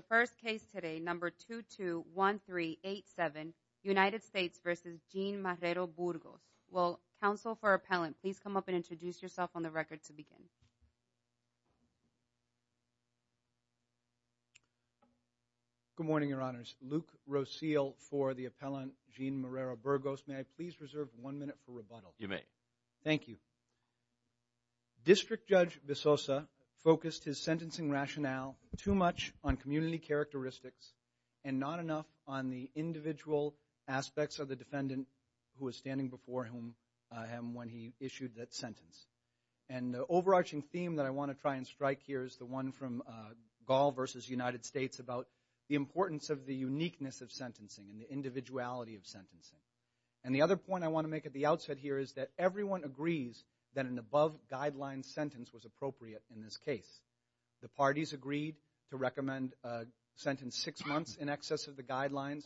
The first case today, number 221387, United States v. Gene Marrero Burgos. Well, counsel for appellant, please come up and introduce yourself on the record to begin. Good morning, your honors. Luke Roseal for the appellant, Gene Marrero Burgos. May I please reserve one minute for rebuttal? You may. Thank you. District Judge Bissosa focused his sentencing rationale too much on community characteristics and not enough on the individual aspects of the defendant who was standing before him when he issued that sentence. And the overarching theme that I want to try and strike here is the one from Gall v. United States about the importance of the uniqueness of sentencing and the individuality of sentencing. And the other point I want to make at the outset here is that everyone agrees that an above-guideline sentence was appropriate in this case. The parties agreed to recommend a sentence six months in excess of the guidelines.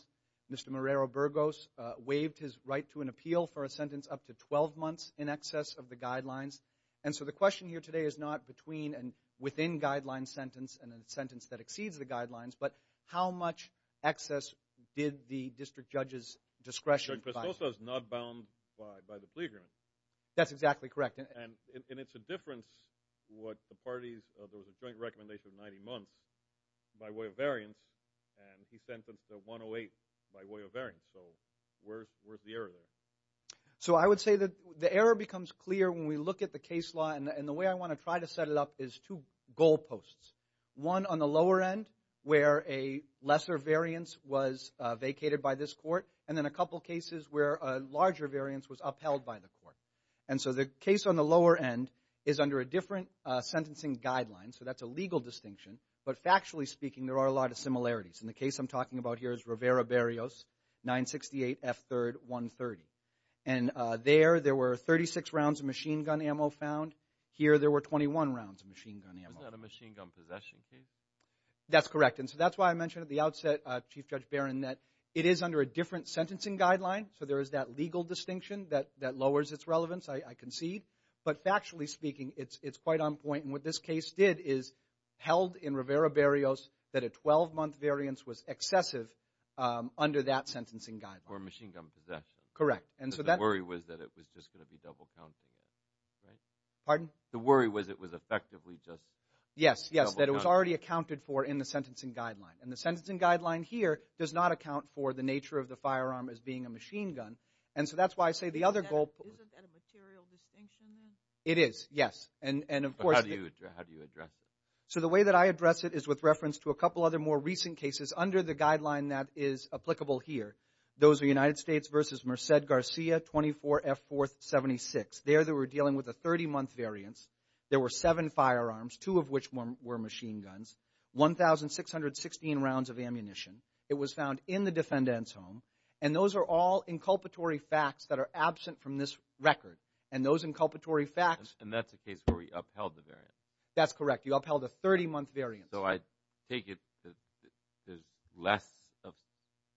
Mr. Marrero Burgos waived his right to an appeal for a sentence up to 12 months in excess of the guidelines. And so the question here today is not between and within guideline sentence and a sentence that exceeds the guidelines, but how much excess did the district judge's discretion provide? District Judge Bissosa is not bound by the plea agreement. That's exactly correct. And it's a difference what the parties, there was a joint recommendation of 90 months by way of variance, and he sentenced to 108 by way of variance. So where's the error there? So I would say that the error becomes clear when we look at the case law, and the way I want to try to set it up is two goal posts. One on the lower end where a lesser variance was vacated by this court, and then a couple cases where a larger variance was upheld by the court. And so the case on the lower end is under a different sentencing guideline, so that's a legal distinction. But factually speaking, there are a lot of similarities. And the case I'm talking about here is Rivera Berrios, 968 F. 3rd, 130. And there, there were 36 rounds of machine gun ammo found. Here, there were 21 rounds of machine gun ammo. Isn't that a machine gun possession case? That's correct. And so that's why I mentioned at the outset, Chief Judge Barron, that it is under a different sentencing guideline. So there is that legal distinction that lowers its relevance, I concede. But factually speaking, it's quite on point. And what this case did is held in Rivera Berrios that a 12-month variance was excessive under that sentencing guideline. Or machine gun possession. Correct. The worry was that it was just going to be double counting it, right? Pardon? The worry was it was effectively just double counting. Yes, yes, that it was already accounted for in the sentencing guideline. And the sentencing guideline here does not account for the nature of the firearm as being a machine gun. And so that's why I say the other goal— Isn't that a material distinction then? It is, yes. And of course— How do you address it? So the way that I address it is with reference to a couple other more recent cases under the guideline that is applicable here. Those are United States v. Merced Garcia, 24 F. 4th, 76. There they were dealing with a 30-month variance. There were seven firearms, two of which were machine guns, 1,616 rounds of ammunition. It was found in the defendant's home. And those are all inculpatory facts that are absent from this record. And those inculpatory facts— And that's the case where we upheld the variance. That's correct. You upheld a 30-month variance. So I take it that there's less of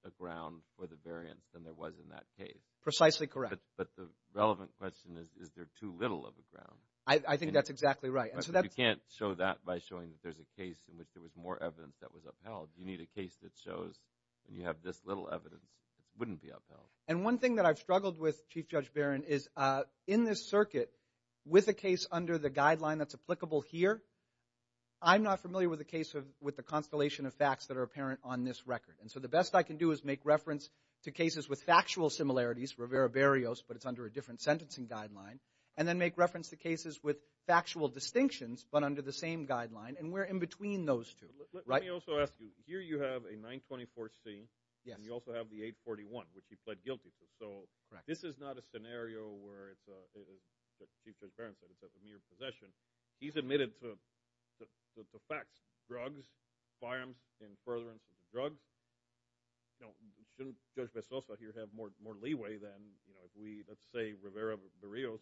a ground for the variance than there was in that case. Precisely correct. But the relevant question is, is there too little of a ground? I think that's exactly right. You can't show that by showing that there's a case in which there was more evidence that was upheld. You need a case that shows when you have this little evidence, it wouldn't be upheld. And one thing that I've struggled with, Chief Judge Barron, is in this circuit, with a case under the guideline that's applicable here, I'm not familiar with a case with the constellation of facts that are apparent on this record. And so the best I can do is make reference to cases with factual similarities, Rivera-Barrios, but it's under a different sentencing guideline, and then make reference to cases with factual distinctions, but under the same guideline. And we're in between those two. Let me also ask you, here you have a 924C. Yes. And you also have the 841, which he pled guilty to. So this is not a scenario where it's a—as Chief Judge Barron said, it's a mere possession. He's admitted to the facts. Drugs, firearms, and furtherance of the drugs. Shouldn't Judge Pesoso here have more leeway than if we, let's say, Rivera-Barrios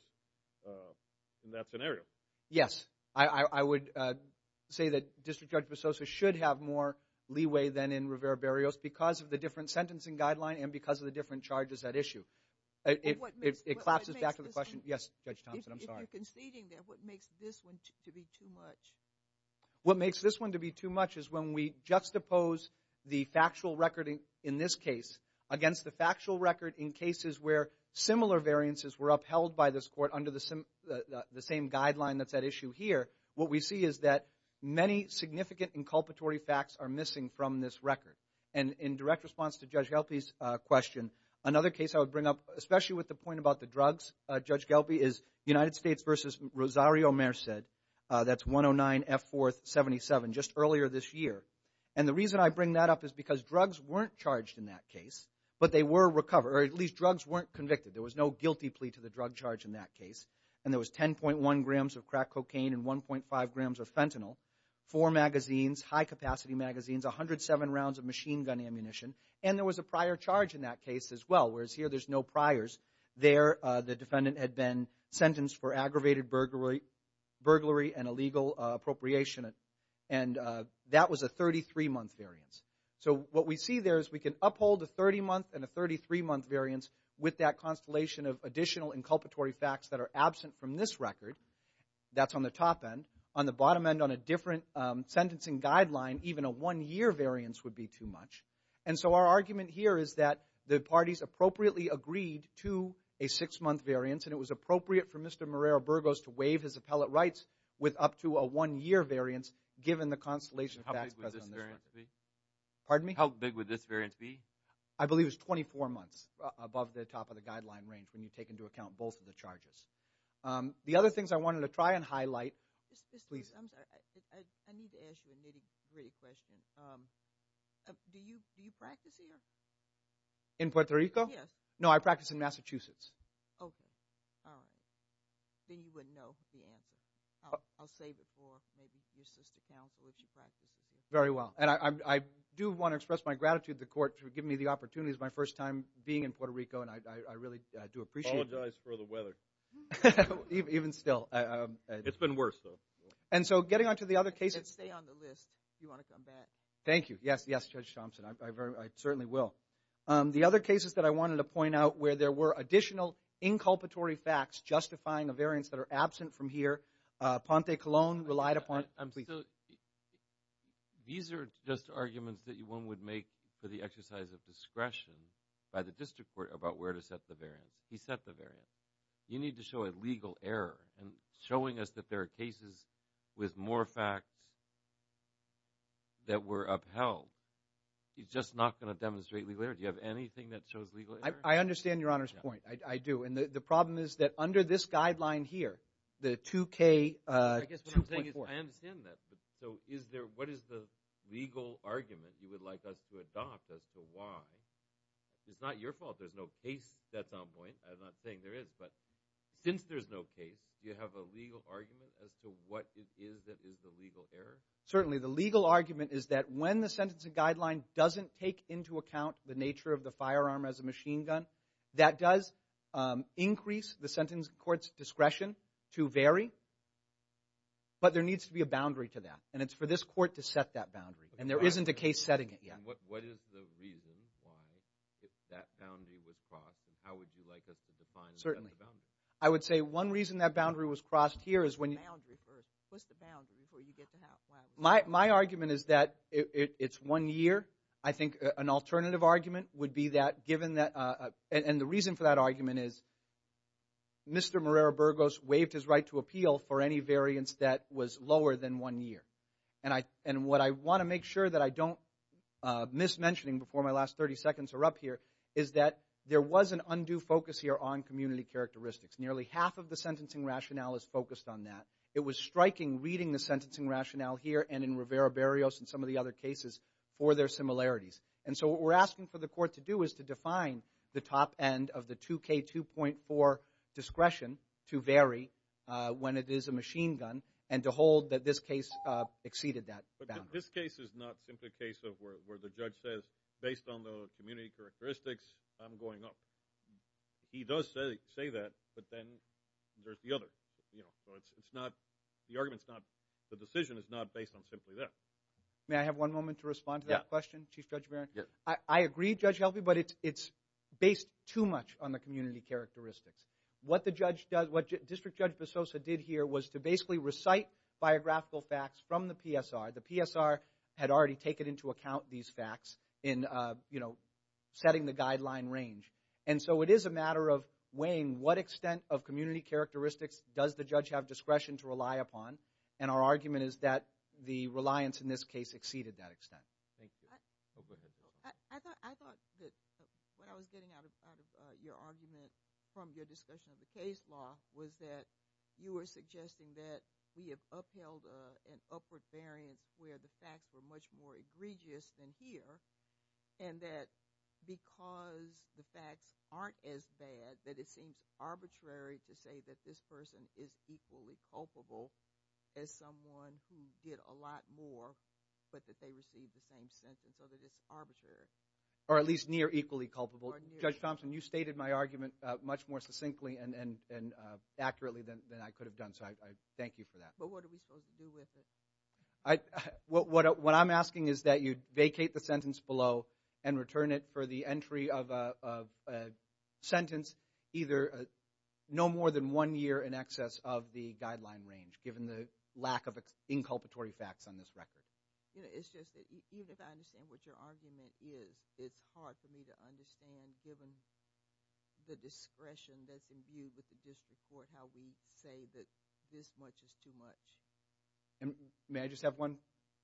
in that scenario? Yes. I would say that District Judge Pesoso should have more leeway than in Rivera-Barrios because of the different sentencing guideline and because of the different charges at issue. It collapses back to the question. Yes, Judge Thompson, I'm sorry. You're conceding there. What makes this one to be too much? What makes this one to be too much is when we juxtapose the factual record in this case against the factual record in cases where similar variances were upheld by this court under the same guideline that's at issue here, what we see is that many significant inculpatory facts are missing from this record. And in direct response to Judge Gelpe's question, another case I would bring up, especially with the point about the drugs, Judge Gelpe, is United States v. Rosario Merced. That's 109F477, just earlier this year. And the reason I bring that up is because drugs weren't charged in that case, but they were recovered, or at least drugs weren't convicted. There was no guilty plea to the drug charge in that case, and there was 10.1 grams of crack cocaine and 1.5 grams of fentanyl, four magazines, high-capacity magazines, 107 rounds of machine gun ammunition, and there was a prior charge in that case as well, whereas here there's no priors. There the defendant had been sentenced for aggravated burglary and illegal appropriation, and that was a 33-month variance. So what we see there is we can uphold a 30-month and a 33-month variance with that constellation of additional inculpatory facts that are absent from this record. That's on the top end. On the bottom end, on a different sentencing guideline, even a one-year variance would be too much. And so our argument here is that the parties appropriately agreed to a six-month variance, and it was appropriate for Mr. Marrero-Burgos to waive his appellate rights with up to a one-year variance given the constellation of facts present on this record. Pardon me? How big would this variance be? I believe it was 24 months above the top of the guideline range when you take into account both of the charges. The other things I wanted to try and highlight. I need to ask you a nitty-gritty question. Do you practice here? In Puerto Rico? Yes. No, I practice in Massachusetts. Okay. All right. Then you wouldn't know the answer. I'll save it for maybe your sister counsel if she practices here. Very well. And I do want to express my gratitude to the court for giving me the opportunity. It's my first time being in Puerto Rico, and I really do appreciate it. Apologize for the weather. Even still. It's been worse, though. And so getting on to the other cases. Stay on the list if you want to come back. Thank you. Yes, Judge Thompson. I certainly will. The other cases that I wanted to point out where there were additional inculpatory facts justifying a variance that are absent from here, Ponte Colon relied upon. These are just arguments that one would make for the exercise of discretion by the district court about where to set the variance. He set the variance. You need to show a legal error in showing us that there are cases with more facts that were upheld. He's just not going to demonstrate legal error. Do you have anything that shows legal error? I understand Your Honor's point. I do. And the problem is that under this guideline here, the 2K2.4. I understand that. So what is the legal argument you would like us to adopt as to why? It's not your fault. There's no case that's on point. I'm not saying there is. But since there's no case, do you have a legal argument as to what it is that is the legal error? Certainly. The legal argument is that when the sentencing guideline doesn't take into account the nature of the firearm as a machine gun, that does increase the sentence court's discretion to vary. But there needs to be a boundary to that. And it's for this court to set that boundary. And there isn't a case setting it yet. And what is the reason why that boundary was crossed? And how would you like us to define the boundary? I would say one reason that boundary was crossed here is when you – The boundary first. What's the boundary before you get to have – My argument is that it's one year. I think an alternative argument would be that given that – and the reason for that argument is Mr. Marrero-Burgos waived his right to appeal for any variance that was lower than one year. And what I want to make sure that I don't miss mentioning before my last 30 seconds are up here is that there was an undue focus here on community characteristics. Nearly half of the sentencing rationale is focused on that. It was striking reading the sentencing rationale here and in Rivera-Barrios and some of the other cases for their similarities. And so what we're asking for the court to do is to define the top end of the 2K2.4 discretion to vary when it is a machine gun and to hold that this case exceeded that boundary. But this case is not simply a case of where the judge says, based on the community characteristics, I'm going up. He does say that, but then there's the other. So it's not – the argument's not – the decision is not based on simply that. May I have one moment to respond to that question, Chief Judge Barron? I agree, Judge Helvey, but it's based too much on the community characteristics. What the judge does – what District Judge Bessosa did here was to basically recite biographical facts from the PSR. The PSR had already taken into account these facts in, you know, setting the guideline range. And so it is a matter of weighing what extent of community characteristics does the judge have discretion to rely upon, and our argument is that the reliance in this case exceeded that extent. Thank you. Oh, go ahead. I thought that what I was getting out of your argument from your discussion of the case law was that you were suggesting that we have upheld an upward variance where the facts were much more egregious than here, and that because the facts aren't as bad that it seems arbitrary to say that this person is equally culpable as someone who did a lot more but that they received the same sentence, so that it's arbitrary. Or at least near equally culpable. Judge Thompson, you stated my argument much more succinctly and accurately than I could have done, so I thank you for that. But what are we supposed to do with it? What I'm asking is that you vacate the sentence below and return it for the entry of a sentence either no more than one year in excess of the guideline range given the lack of inculpatory facts on this record. It's just that even if I understand what your argument is, it's hard for me to understand given the discretion that's imbued with the district court how we say that this much is too much. May I just have one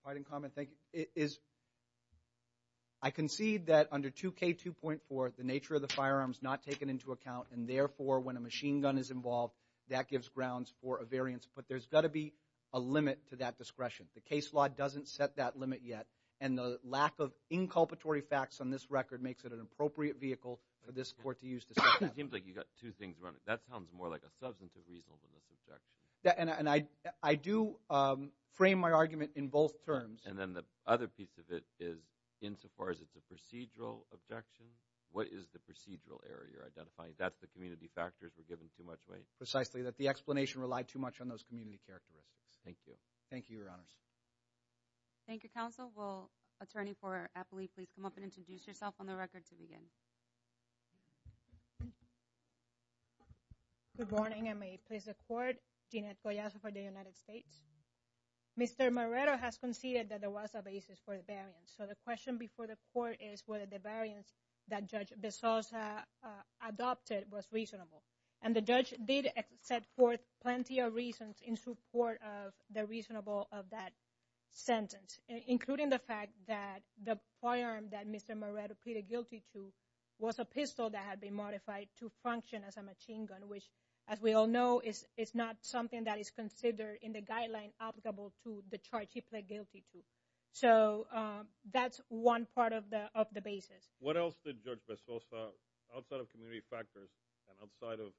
parting comment? Thank you. I concede that under 2K2.4 the nature of the firearm is not taken into account, and therefore when a machine gun is involved, that gives grounds for a variance. But there's got to be a limit to that discretion. The case law doesn't set that limit yet, and the lack of inculpatory facts on this record makes it an appropriate vehicle for this court to use to set that limit. It seems like you've got two things running. That sounds more like a substantive reason for this objection. And I do frame my argument in both terms. And then the other piece of it is insofar as it's a procedural objection, what is the procedural error you're identifying? That's the community factors we're giving too much weight. Precisely, that the explanation relied too much on those community characteristics. Thank you. Thank you, Your Honors. Thank you, Counsel. Will attorney for Apley please come up and introduce yourself on the record to begin? Good morning. I may please the court. Jeanette Goyazo for the United States. Mr. Marrero has conceded that there was a basis for the variance. So the question before the court is whether the variance that Judge Bezos adopted was reasonable. And the judge did set forth plenty of reasons in support of the reasonable of that sentence, including the fact that the firearm that Mr. Marrero pleaded guilty to was a pistol that had been modified to function as a machine gun, which as we all know is not something that is considered in the guideline applicable to the charge he pled guilty to. So that's one part of the basis. What else did Judge Bezos, outside of community factors and outside of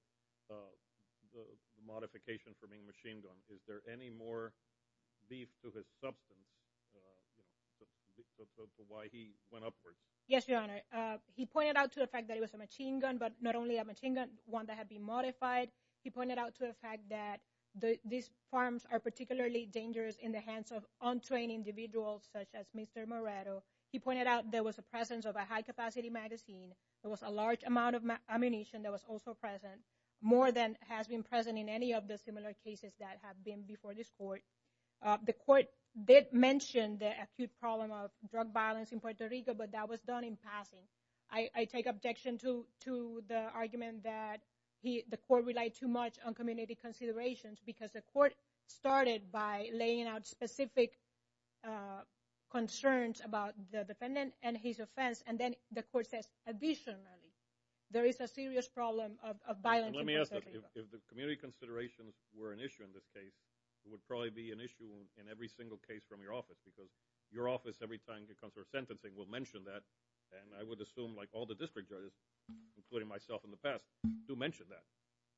the modification for being a machine gun, is there any more beef to his substance for why he went upwards? Yes, Your Honor. He pointed out to the fact that it was a machine gun, but not only a machine gun, one that had been modified. He pointed out to the fact that these firearms are particularly dangerous in the hands of untrained individuals such as Mr. Marrero. He pointed out there was a presence of a high-capacity magazine. There was a large amount of ammunition that was also present, more than has been present in any of the similar cases that have been before this court. The court did mention the acute problem of drug violence in Puerto Rico, but that was done in passing. I take objection to the argument that the court relied too much on community considerations because the court started by laying out specific concerns about the defendant and his offense, and then the court says additionally there is a serious problem of violence in Puerto Rico. Let me ask this. If the community considerations were an issue in this case, it would probably be an issue in every single case from your office because your office, every time it comes to our sentencing, will mention that, and I would assume all the district judges, including myself in the past, do mention that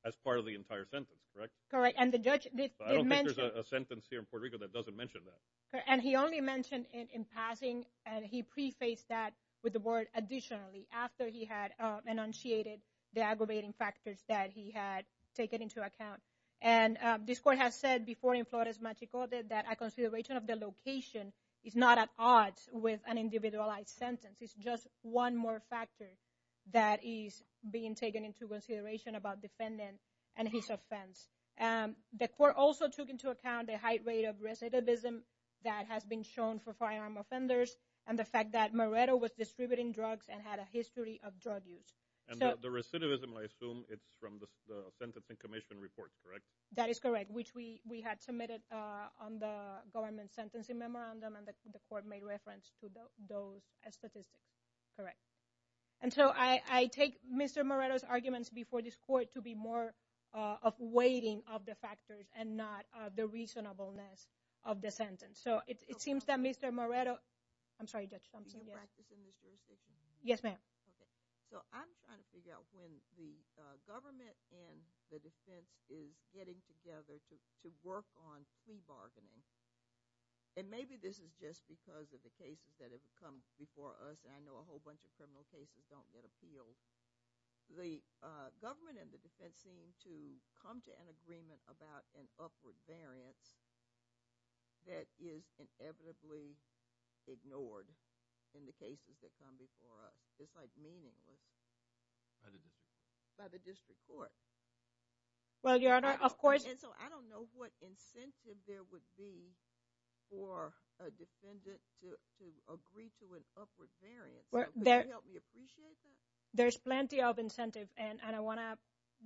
as part of the entire sentence, correct? Correct. I don't think there's a sentence here in Puerto Rico that doesn't mention that. And he only mentioned it in passing, and he prefaced that with the word additionally after he had enunciated the aggravating factors that he had taken into account. And this court has said before in Flores Magico that a consideration of the location is not at odds with an individualized sentence. It's just one more factor that is being taken into consideration about defendant and his offense. The court also took into account the high rate of recidivism that has been shown for firearm offenders and the fact that Moreto was distributing drugs and had a history of drug use. And the recidivism, I assume, it's from the sentencing commission report, correct? That is correct, which we had submitted on the government sentencing memorandum, and the court made reference to those statistics, correct. And so I take Mr. Moreto's arguments before this court to be more of weighting of the factors and not the reasonableness of the sentence. So it seems that Mr. Moreto – I'm sorry, Judge Thompson. Do you practice in this jurisdiction? Yes, ma'am. Okay. So I'm trying to figure out when the government and the defense is getting together to work on plea bargaining. And maybe this is just because of the cases that have come before us, and I know a whole bunch of criminal cases don't get appealed. The government and the defense seem to come to an agreement about an upward variance that is inevitably ignored in the cases that come before us. It's like meaningless. By the district? By the district court. Well, Your Honor, of course. And so I don't know what incentive there would be for a defendant to agree to an upward variance. Would you help me appreciate that? There's plenty of incentive, and I want to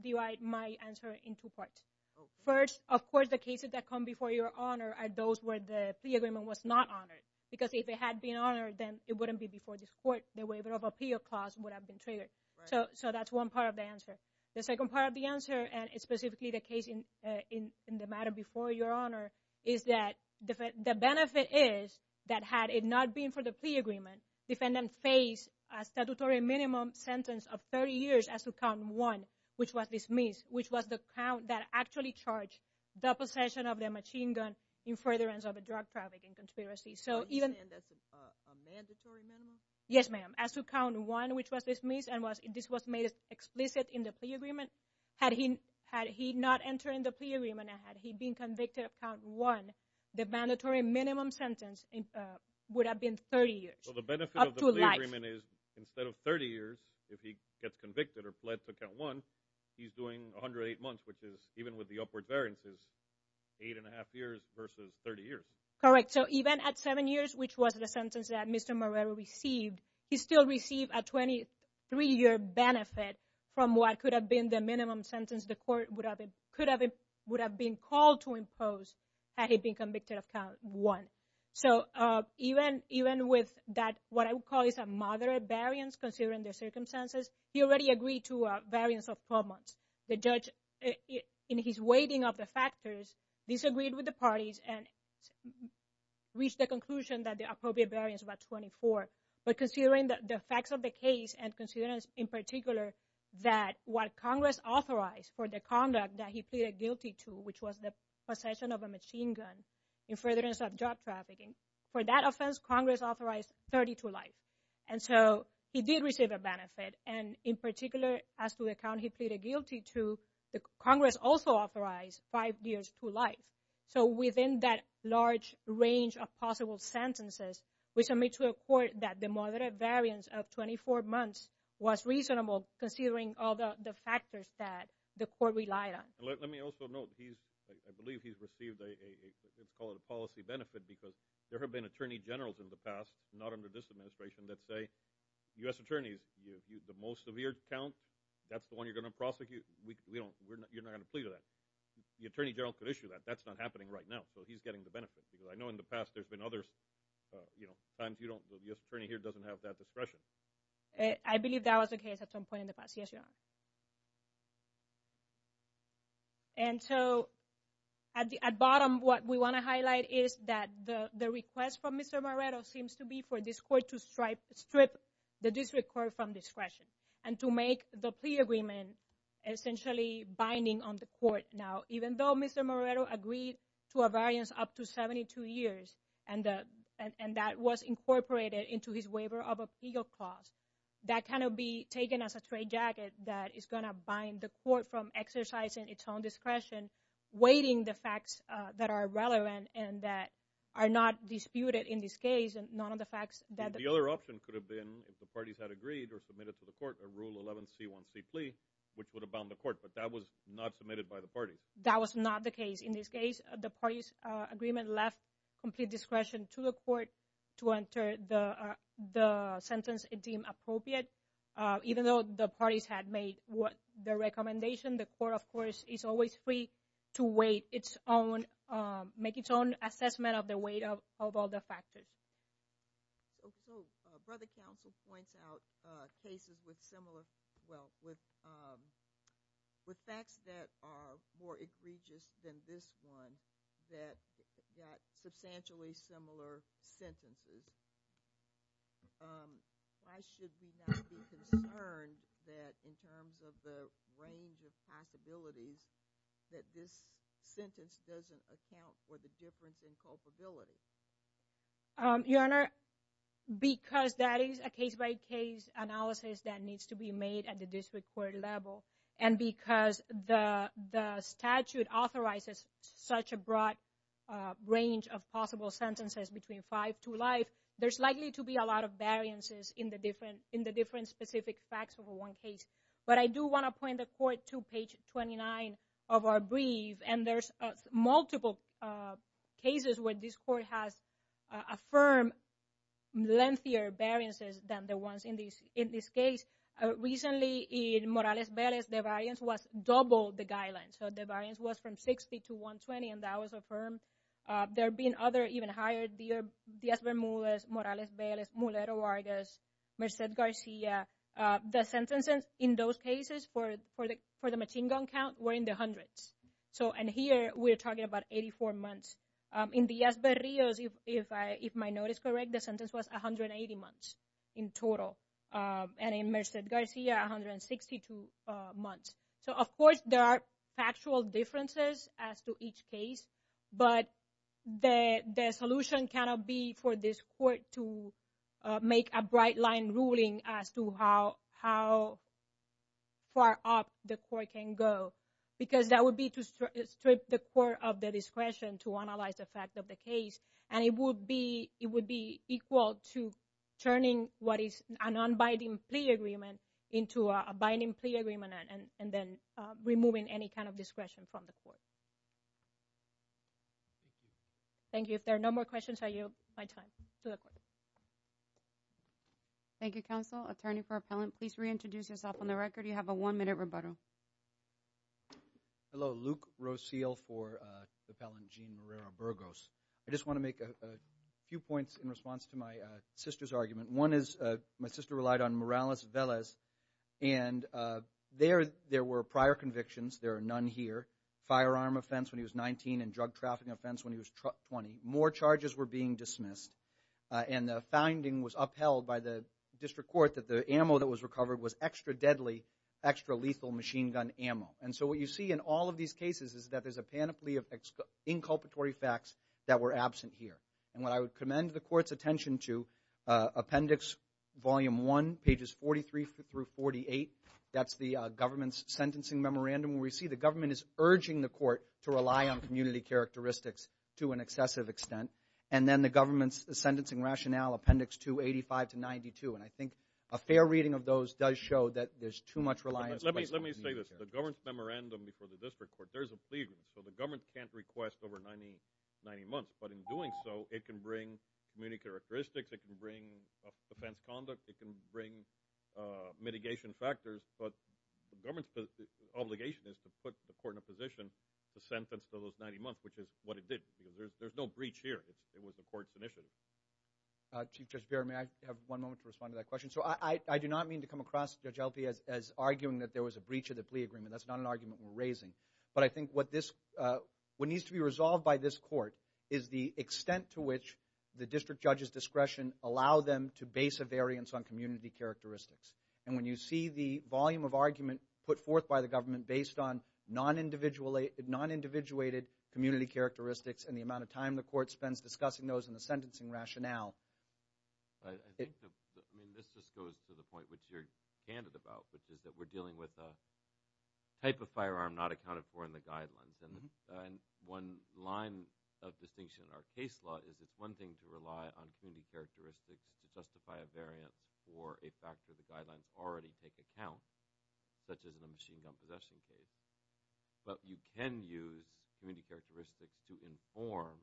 divide my answer in two parts. Okay. First, of course, the cases that come before Your Honor are those where the plea agreement was not honored. Because if it had been honored, then it wouldn't be before this court. The waiver of appeal clause would have been triggered. Right. So that's one part of the answer. The second part of the answer, and specifically the case in the matter before Your Honor, is that the benefit is that had it not been for the plea agreement, defendant faced a statutory minimum sentence of 30 years as to count one, which was dismissed, which was the count that actually charged the possession of the machine gun in furtherance of a drug trafficking conspiracy. So even— You're saying that's a mandatory minimum? Yes, ma'am. As to count one, which was dismissed, and this was made explicit in the plea agreement, had he not entered in the plea agreement and had he been convicted of count one, the mandatory minimum sentence would have been 30 years. So the benefit of the plea agreement is instead of 30 years, if he gets convicted or pled to count one, he's doing 108 months, which is even with the upward variances, eight and a half years versus 30 years. Correct. So even at seven years, which was the sentence that Mr. Moreira received, he still received a 23-year benefit from what could have been the minimum sentence the court would have been called to impose had he been convicted of count one. So even with that, what I would call is a moderate variance, considering the circumstances, he already agreed to a variance of 12 months. The judge, in his weighting of the factors, disagreed with the parties and reached the conclusion that the appropriate variance was 24. But considering the facts of the case and considering, in particular, that what Congress authorized for the conduct that he pleaded guilty to, which was the possession of a machine gun in furtherance of job trafficking, for that offense, Congress authorized 30 to life. And so he did receive a benefit. And in particular, as to the count he pleaded guilty to, Congress also authorized five years to life. So within that large range of possible sentences, we submit to a court that the moderate variance of 24 months was reasonable, considering all the factors that the court relied on. Let me also note, I believe he's received a policy benefit because there have been attorney generals in the past, not under this administration, that say U.S. attorneys, the most severe count, that's the one you're going to prosecute. You're not going to plead with that. The attorney general could issue that. That's not happening right now, so he's getting the benefit. Because I know in the past there's been others, you know, times the U.S. attorney here doesn't have that discretion. I believe that was the case at some point in the past. Yes, Your Honor. And so at bottom, what we want to highlight is that the request from Mr. Moreto seems to be for this court to strip the district court from discretion and to make the plea agreement essentially binding on the court. Now, even though Mr. Moreto agreed to a variance up to 72 years and that was incorporated into his waiver of appeal clause, that cannot be taken as a trade jacket that is going to bind the court from exercising its own discretion, weighting the facts that are relevant and that are not disputed in this case and none of the facts that the parties had agreed or submitted to the court, a Rule 11C1C plea, which would have bound the court. But that was not submitted by the parties. That was not the case. In this case, the parties' agreement left complete discretion to the court to enter the sentence it deemed appropriate. Even though the parties had made the recommendation, the court, of course, is always free to weight its own, make its own assessment of the weight of all the factors. So Brother Counsel points out cases with similar, well, with facts that are more egregious than this one that got substantially similar sentences. Why should we not be concerned that in terms of the range of possibilities that this sentence doesn't account for the difference in culpability? Your Honor, because that is a case-by-case analysis that needs to be made at the district court level and because the statute authorizes such a broad range of possible sentences between five to life, there's likely to be a lot of variances in the different specific facts of one case. But I do want to point the court to page 29 of our brief, and there's multiple cases where this court has affirmed lengthier variances than the ones in this case. Recently, in Morales-Velez, the variance was double the guidelines. So the variance was from 60 to 120, and that was affirmed. There have been other even higher, Diaz-Vermules, Morales-Velez, Mulero-Vargas, Merced-Garcia. The sentences in those cases for the machine gun count were in the hundreds. And here we're talking about 84 months. In Diaz-Verrillos, if my note is correct, the sentence was 180 months in total. And in Merced-Garcia, 162 months. So, of course, there are factual differences as to each case, but the solution cannot be for this court to make a bright-line ruling as to how far up the court can go, because that would be to strip the court of the discretion to analyze the fact of the case, and it would be equal to turning what is a non-binding plea agreement into a binding plea agreement, and then removing any kind of discretion from the court. Thank you. If there are no more questions, I yield my time to the court. Thank you, Counsel. Attorney for Appellant, please reintroduce yourself on the record. You have a one-minute rebuttal. Hello. Luke Roseal for Appellant Jean Merera-Burgos. I just want to make a few points in response to my sister's argument. One is my sister relied on Morales-Velez, and there were prior convictions. There are none here. Firearm offense when he was 19 and drug-trafficking offense when he was 20. More charges were being dismissed, and the finding was upheld by the district court that the ammo that was recovered was extra-deadly, extra-lethal machine-gun ammo. And so what you see in all of these cases is that there's a panoply of inculpatory facts that were absent here. And what I would commend the court's attention to, Appendix Volume 1, pages 43 through 48, that's the government's sentencing memorandum, where you see the government is urging the court to rely on community characteristics to an excessive extent. And then the government's sentencing rationale, Appendix 285 to 92. And I think a fair reading of those does show that there's too much reliance on community characteristics. Let me say this. The government's memorandum before the district court, there's a plea agreement. So the government can't request over 90 months. But in doing so, it can bring community characteristics. It can bring offense conduct. It can bring mitigation factors. But the government's obligation is to put the court in a position to sentence those 90 months, which is what it did, because there's no breach here. It was the court's initiative. Chief Judge Bearer, may I have one moment to respond to that question? So I do not mean to come across Judge Albee as arguing that there was a breach of the plea agreement. That's not an argument we're raising. But I think what needs to be resolved by this court is the extent to which the district judge's discretion allow them to base a variance on community characteristics. And when you see the volume of argument put forth by the government based on non-individuated community characteristics and the amount of time the court spends discussing those and the sentencing rationale. I think this just goes to the point which you're candid about, which is that we're dealing with a type of firearm not accounted for in the guidelines. And one line of distinction in our case law is it's one thing to rely on community characteristics to justify a variance for a factor the guidelines already take account, such as in a machine gun possession case. But you can use community characteristics to inform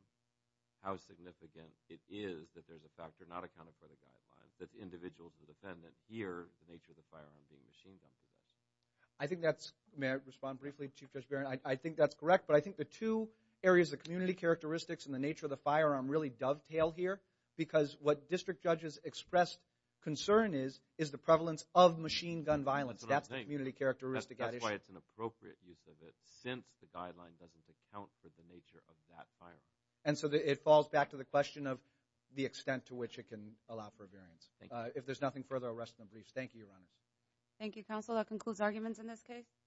how significant it is that there's a factor not accounted for in the guidelines. That's individual to the defendant. Here, the nature of the firearm being machine gun possession. I think that's, may I respond briefly, Chief Judge Barron? I think that's correct. But I think the two areas of community characteristics and the nature of the firearm really dovetail here. Because what district judges expressed concern is is the prevalence of machine gun violence. That's the community characteristic. That's why it's an appropriate use of it since the guideline doesn't account for the nature of that firearm. And so it falls back to the question of the extent to which it can allow for a variance. If there's nothing further, I'll rest in the briefs. Thank you, Your Honors. Thank you, Counsel. That concludes arguments in this case.